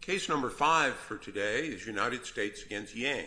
Case number five for today is United States v. Yang.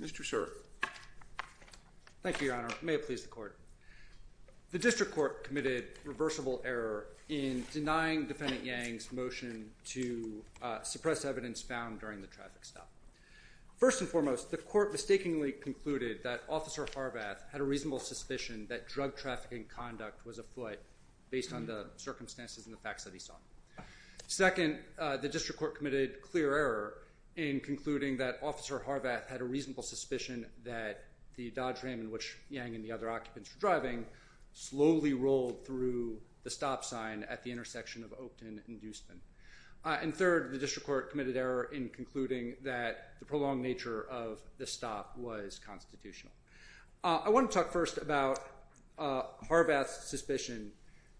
Mr. Sir. Thank you, Your Honor. May it please the Court. The District Court committed reversible error in denying Defendant Yang's motion to suppress evidence found during the traffic stop. First and foremost, the Court mistakenly concluded that Officer Harvath had a reasonable suspicion that drug trafficking conduct was afoot based on the circumstances and the facts that he saw. Second, the District Court committed clear error in concluding that Officer Harvath had a reasonable suspicion that the Dodge Ram in which Yang and the other occupants were driving slowly rolled through the stop sign at the intersection of Oakton and Duespen. And third, the District Court committed error in concluding that the prolonged nature of the stop was constitutional. I want to talk first about Harvath's suspicion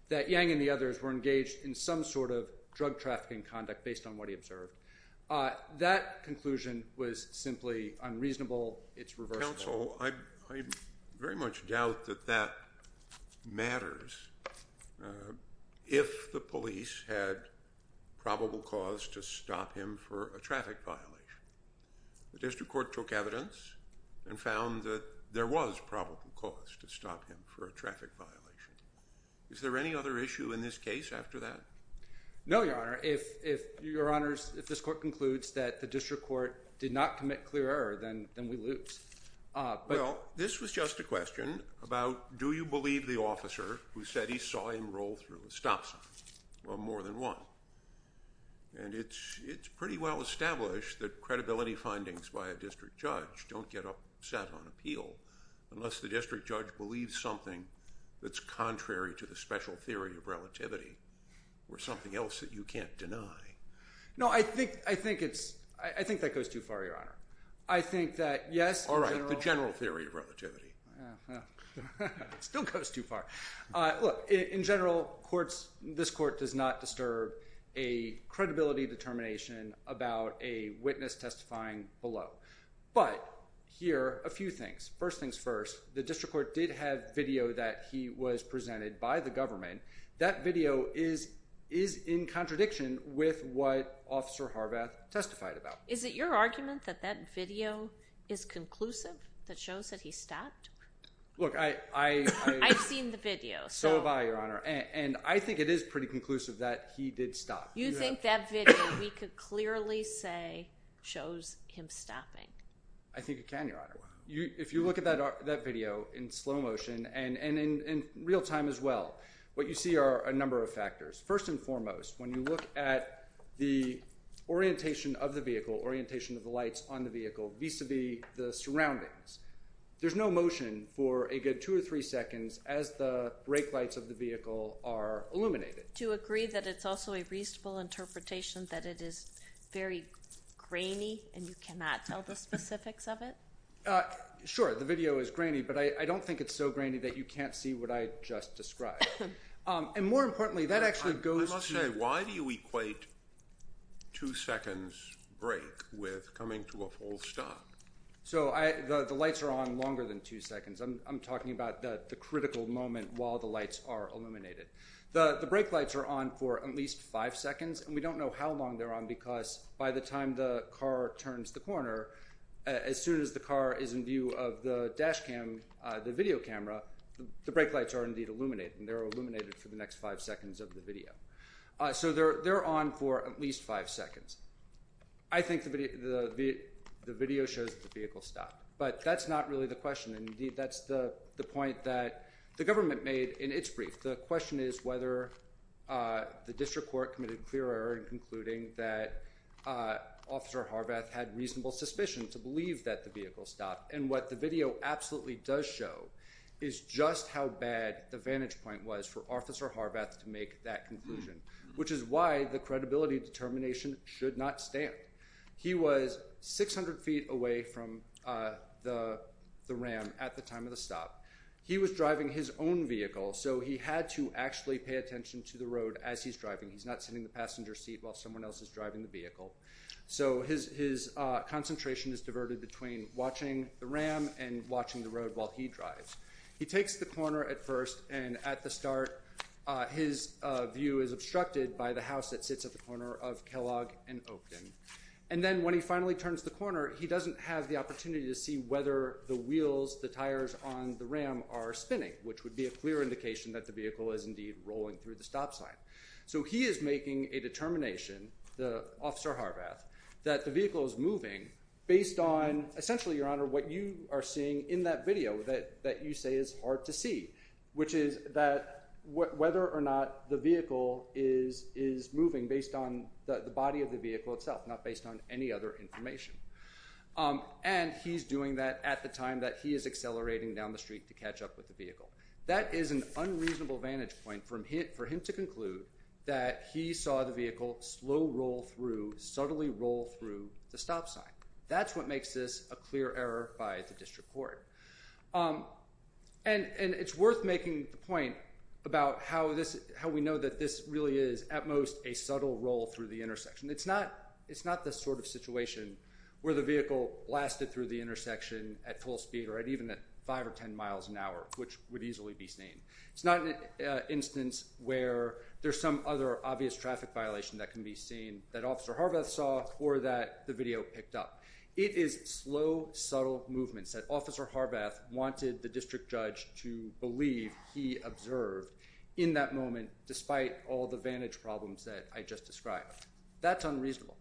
that Yang and the others were engaged in some sort of drug trafficking conduct based on what he observed. That conclusion was simply unreasonable. It's reversible. Counsel, I very much doubt that that matters if the police had probable cause to stop him for a traffic violation. The District Court took evidence and found that there was probable cause to stop him for a traffic violation. Is there any other issue in this case after that? No, Your Honor. If Your Honor's, if this Court concludes that the District Court did not commit clear error, then we lose. Well, this was just a question about do you believe the officer who said he saw him roll through the stop sign? Well, more than one. And it's pretty well established that credibility findings by a district judge don't get upset on appeal unless the district judge believes something that's contrary to the special theory of relativity or something else that you can't deny. No, I think, I think it's, I think that goes too far, Your Honor. I think that yes. All right, the general theory of relativity. Still goes too far. Look, in general courts, this court does not disturb a credibility determination about a witness testifying below. But here, a few things. First things first, the District Court did have video that he was presented by the government. That video is, is in contradiction with what Officer Harvath testified about. Is it your argument that that video is conclusive? That shows that he stopped? Look, I, I, I've seen the video. So have I, Your Honor. And I think it is pretty conclusive that he did stop. You think that video, we could clearly say shows him stopping. I think it can, Your Honor. You, if you look at that, that video in slow motion and, and in, in real time as well, what you see are a number of factors. First and foremost, when you look at the orientation of the vehicle, orientation of the lights on the vehicle vis-a-vis the surroundings, there's no motion for a good two or three seconds as the brake lights of the vehicle are illuminated. Do you agree that it's also a reasonable interpretation that it is very grainy and you cannot tell the specifics of it? Sure. The video is grainy, but I don't think it's so grainy that you can't see what I just described. And more importantly, that actually goes to... I must say, why do you equate two seconds brake with coming to a full stop? So I, the, the lights are on longer than two seconds. I'm, I'm talking about the, the critical moment while the lights are illuminated. The, the brake lights are on for at least five seconds, and we don't know how long they're on because by the time the car turns the corner, as soon as the car is in view of the dash cam, the video camera, the brake lights are indeed illuminated and they're illuminated for the next five seconds of the video. So they're, they're on for at least five seconds. I think the, the, the video shows the vehicle stopped, but that's not really the question. And indeed, that's the question. The government made in its brief, the question is whether, uh, the district court committed clear error in concluding that, uh, officer Harvath had reasonable suspicion to believe that the vehicle stopped. And what the video absolutely does show is just how bad the vantage point was for officer Harvath to make that conclusion, which is why the credibility determination should not stand. He was 600 feet away from, uh, the, the Ram at the time of the stop. He was driving his own vehicle, so he had to actually pay attention to the road as he's driving. He's not sitting in the passenger seat while someone else is driving the vehicle. So his, his, uh, concentration is diverted between watching the Ram and watching the road while he drives. He takes the corner at first and at the start, uh, his, uh, view is obstructed by the house that sits at the corner of Kellogg and Oakton. And then when he finally turns the corner, he doesn't have the opportunity to see whether the wheels, the tires on the Ram are spinning, which would be a clear indication that the vehicle is indeed rolling through the stop sign. So he is making a determination, the officer Harvath, that the vehicle is moving based on essentially your honor, what you are seeing in that video that, that you say is hard to see, which is that whether or not the vehicle is, is moving based on the body of the vehicle itself, not based on any other information. Um, and he's doing that at the time that he is accelerating down the street to catch up with the vehicle. That is an unreasonable vantage point from hit for him to conclude that he saw the vehicle slow roll through subtly roll through the stop sign. That's what makes this a clear error by the district court. Um, and, and it's worth making the point about how this, how we know that this really is at most a subtle roll through the intersection. It's not, it's not the sort of situation where the vehicle lasted through the intersection at full speed or at even at five or 10 miles an hour, which would easily be seen. It's not an instance where there's some other obvious traffic violation that can be seen that officer Harvath saw or that the video picked up. It is slow, subtle movements that officer Harvath wanted the district judge to believe he observed in that moment, despite all the vantage problems that I just described. That's unreasonable.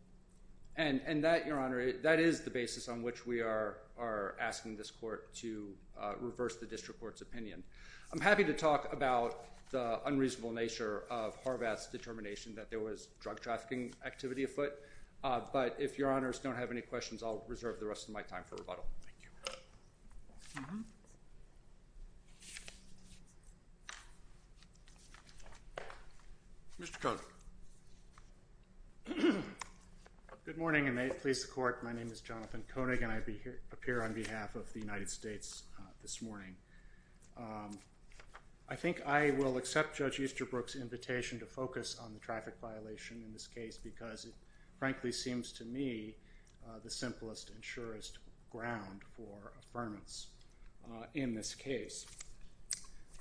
And, and that your honor, that is the basis on which we are, are asking this court to reverse the district court's opinion. I'm happy to talk about the unreasonable nature of Harvath's determination that there was drug trafficking activity afoot. Uh, but if your honors don't have any questions, I'll Good morning and may it please the court. My name is Jonathan Koenig and I appear on behalf of the United States this morning. Um, I think I will accept Judge Easterbrook's invitation to focus on the traffic violation in this case because it frankly seems to me the simplest and surest ground for affirmance, uh, in this case.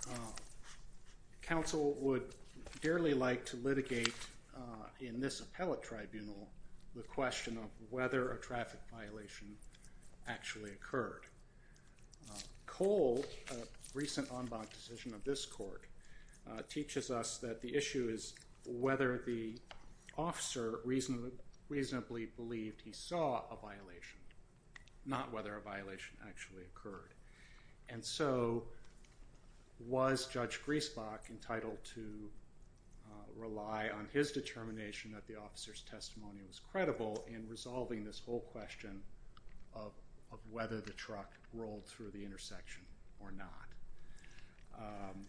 Uh, counsel would dearly like to litigate, uh, in this appellate tribunal, the question of whether a traffic violation actually occurred. Uh, Cole, a recent en banc decision of this court, uh, teaches us that the issue is whether the officer reasonably, reasonably believed he saw a violation, not whether a violation actually occurred. And so, was Judge Griesbach entitled to, uh, rely on his determination that the officer's testimony was credible in resolving this whole question of whether the truck rolled through the intersection or not? Um,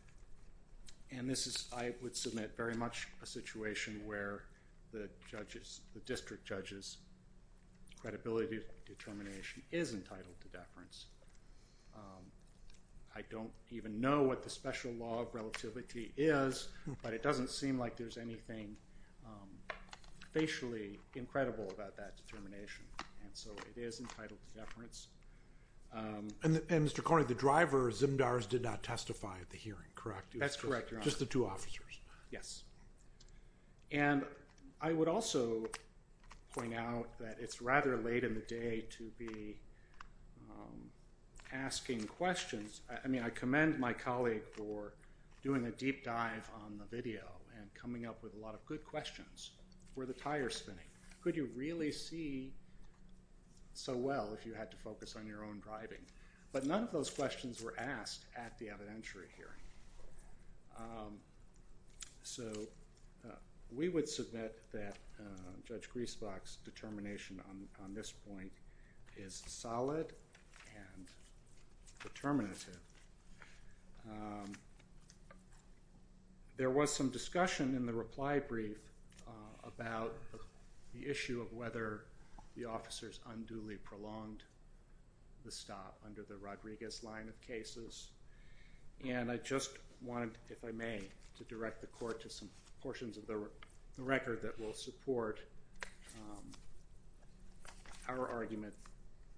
and this is, I would submit, very much a situation where the judge's, the district judge's credibility determination isn't credible and is entitled to deference. Um, I don't even know what the special law of relativity is, but it doesn't seem like there's anything, um, facially incredible about that determination. And so, it is entitled to deference. Um. And, and Mr. Koenig, the driver, Zimdars, did not testify at the hearing, correct? That's correct, Your Honor. Just the two officers? Yes. And I would also point out that it's rather late in the day to be, um, asking questions. I mean, I commend my colleague for doing a deep dive on the video and coming up with a lot of good questions. Were the tires spinning? Could you really see so well if you had to focus on your own driving? But none of those questions were asked at the evidentiary hearing. Um, so, we would submit that Judge Griesbach's determination on this point is solid and determinative. There was some discussion in the reply brief about the issue of whether the officers unduly prolonged the stop under the Rodriguez line of cases, and I just want, if I may, to direct the Court to some portions of the record that will support, um, our argument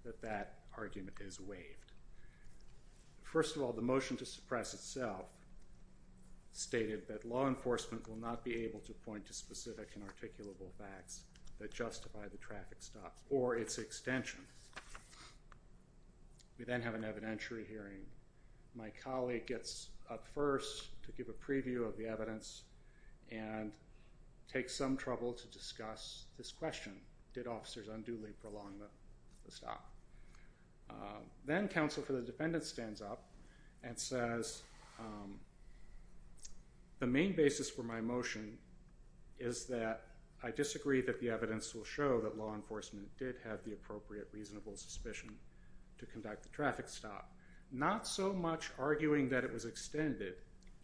that that argument is waived. First of all, the motion to suppress itself stated that law enforcement will not be able to point to specific and articulable facts that justify the traffic stop or its extension. We then have an evidentiary hearing. My colleague gets up first to give a preview of the evidence and takes some trouble to discuss this question. Did officers unduly prolong the stop? Then counsel for the defendant stands up and says, um, the main basis for my motion is that I disagree that the evidence will show that law enforcement did have the appropriate reasonable suspicion to conduct the traffic stop. Not so much arguing that it was extended,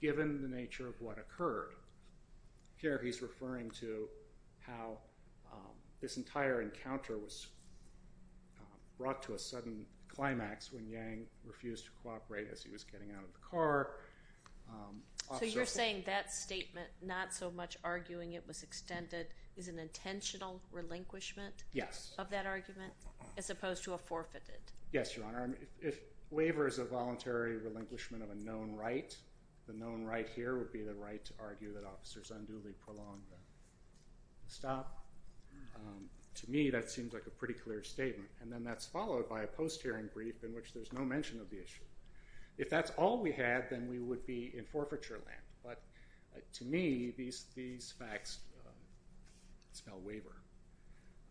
given the nature of what occurred. Here he's referring to how, um, this entire encounter was, um, brought to a sudden climax when Yang refused to cooperate as he was getting out of the car. Um, officers... So you're saying that statement, not so much arguing it was extended, is an intentional relinquishment of that argument as opposed to a forfeited? Yes, Your Honor. If waiver is a voluntary relinquishment of a known right, the known right here would be the right to argue that officers unduly prolonged the stop. Um, to me that seems like a pretty clear statement. And then that's followed by a post-hearing brief in which there's no mention of the issue. If that's all we had, then we would be in agreement.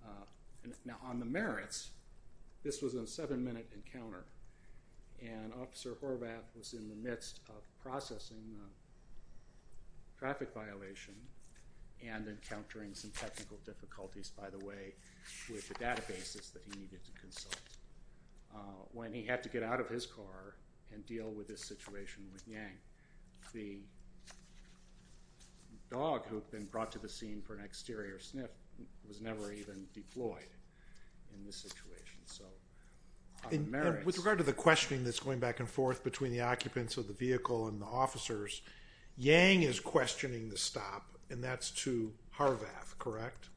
Uh, now on the merits, this was a seven minute encounter and Officer Horvath was in the midst of processing the traffic violation and encountering some technical difficulties, by the way, with the databases that he needed to consult. Uh, when he had to get out of his car and deal with this situation with Yang, the dog who had been brought to the scene for an exterior sniff was never even deployed in this situation. So, on the merits... And with regard to the questioning that's going back and forth between the occupants of the vehicle and the officers, Yang is questioning the stop and that's to Horvath, correct?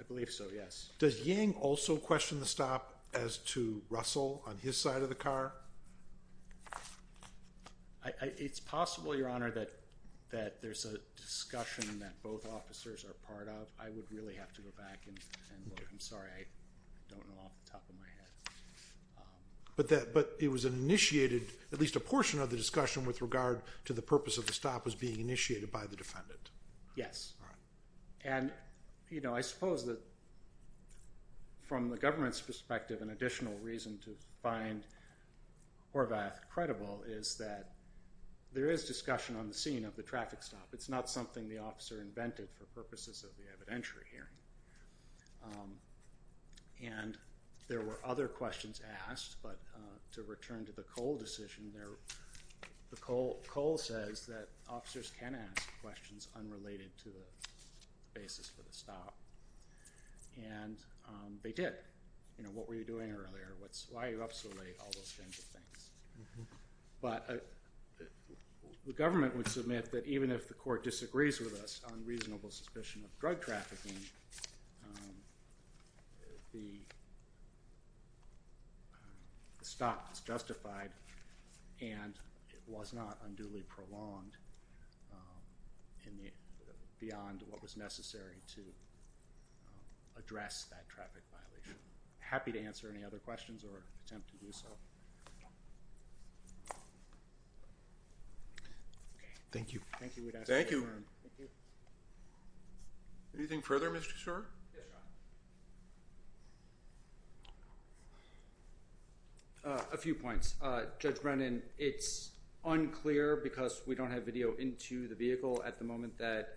I believe so, yes. Does Yang also question the stop as to Russell on his side of the car? It's possible, Your Honor, that there's a discussion that both officers are part of. I would really have to go back and look. I'm sorry, I don't know off the top of my head. But it was an initiated, at least a portion of the discussion with regard to the purpose of the stop was being initiated by the defendant? Yes. And, you know, I suppose that from the government's perspective, an additional reason to find Horvath credible is that there is discussion on the scene of the traffic stop. It's not something the officer invented for purposes of the evidentiary hearing. And there were other questions asked, but to return to the Cole decision, Cole says that officers can ask questions unrelated to the basis for the stop. And they did. You know, what were you doing earlier? Why are you up so late? All those kinds of things. But the government would submit that even if the court disagrees with us on reasonable suspicion of drug trafficking, the stop is justified and it was not unduly prolonged beyond what was necessary to address that traffic violation. Happy to answer any other questions or attempt to do so. Thank you. Thank you. Anything further, Mr. Shor? A few points. Judge Brennan, it's unclear because we don't have video into the vehicle at the moment that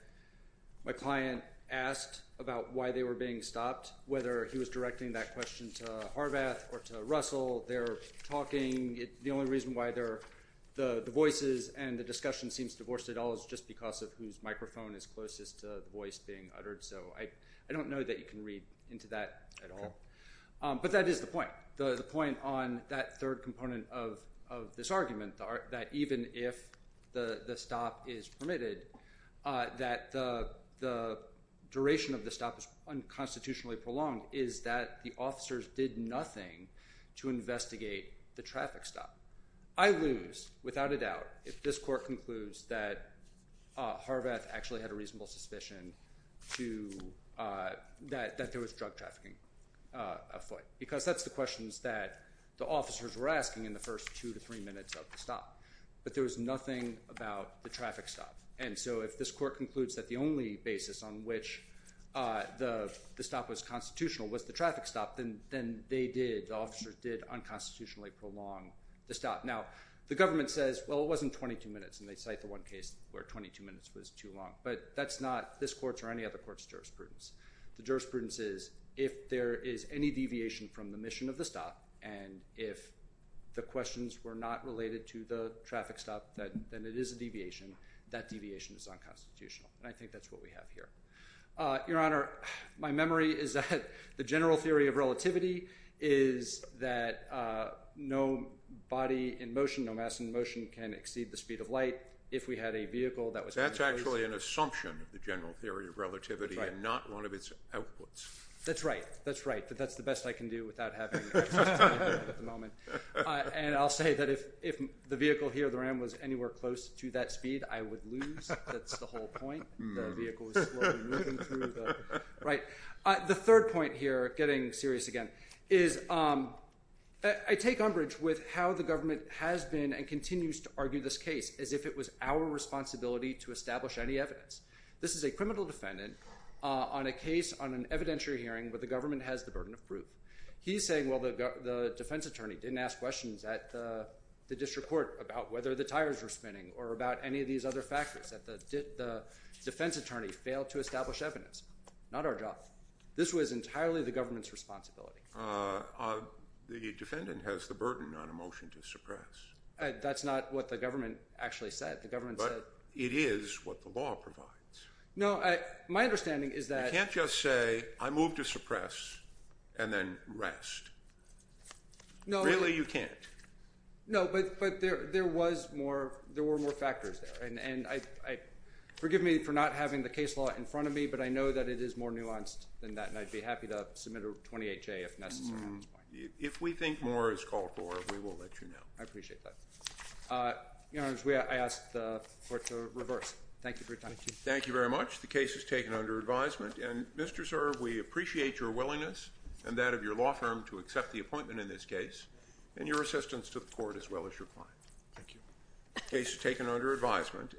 my client asked about why they were being stopped, whether he was directing that question to Horvath or to Russell. They're talking. The only reason why the voices and the discussion seems divorced at all is just because of whose microphone is closest to the voice being uttered. So I don't know that you can read into that at all. But that is the point. The point on that third component of this argument, that even if the stop is prolonged, that the duration of the stop is unconstitutionally prolonged, is that the officers did nothing to investigate the traffic stop. I lose, without a doubt, if this court concludes that Horvath actually had a reasonable suspicion that there was drug trafficking afoot. Because that's the questions that the officers were asking in the first two to three minutes of the stop. But there was nothing about the traffic stop. And so if this court concludes that the only basis on which the stop was constitutional was the traffic stop, then they did, the officers did unconstitutionally prolong the stop. Now, the government says, well, it wasn't 22 minutes. And they cite the one case where 22 minutes was too long. But that's not this court's or any other court's jurisprudence. The jurisprudence is, if there is any deviation from the mission of the stop, and if the questions were not related to the traffic stop, then it is a deviation. That deviation is unconstitutional. And I think that's what we have here. Your Honor, my memory is that the general theory of relativity is that no body in motion, no mass in motion, can exceed the speed of light. If we had a vehicle that was... That's actually an assumption of the general theory of relativity and not one of its outputs. That's right. That's right. But that's the best I can do without having access to any of that at the moment. And I'll say that if the vehicle here, the RAM, was anywhere close to that speed, I would lose. That's the whole point. The vehicle is slowly moving through the... Right. The third point here, getting serious again, is I take umbrage with how the government has been and continues to argue this case as if it was our responsibility to establish any evidence. This is a criminal defendant on a case on an evidentiary hearing where the government has the burden of proof. He's saying, well, the defense attorney didn't ask questions at the district court about whether the tires were spinning or about any of these other factors, that the defense attorney failed to establish evidence. Not our job. This was entirely the government's responsibility. The defendant has the burden on a motion to suppress. That's not what the government actually said. The government said... It is what the law provides. No, my understanding is that... You can't just say, I move to suppress and then rest. Really, you can't. No, but there were more factors there. Forgive me for not having the case law in front of me, but I know that it is more nuanced than that. And I'd be happy to submit a 28-J if necessary at this point. If we think more is called for, we will let you know. I appreciate that. Your Honor, I ask the court to reverse. Thank you for your time. Thank you very much. The case is taken under advisement. And Mr. Zerv, we appreciate your willingness and that of your law firm to accept the appointment in this case and your assistance to the court as well as your client. Thank you. The case is taken under advisement.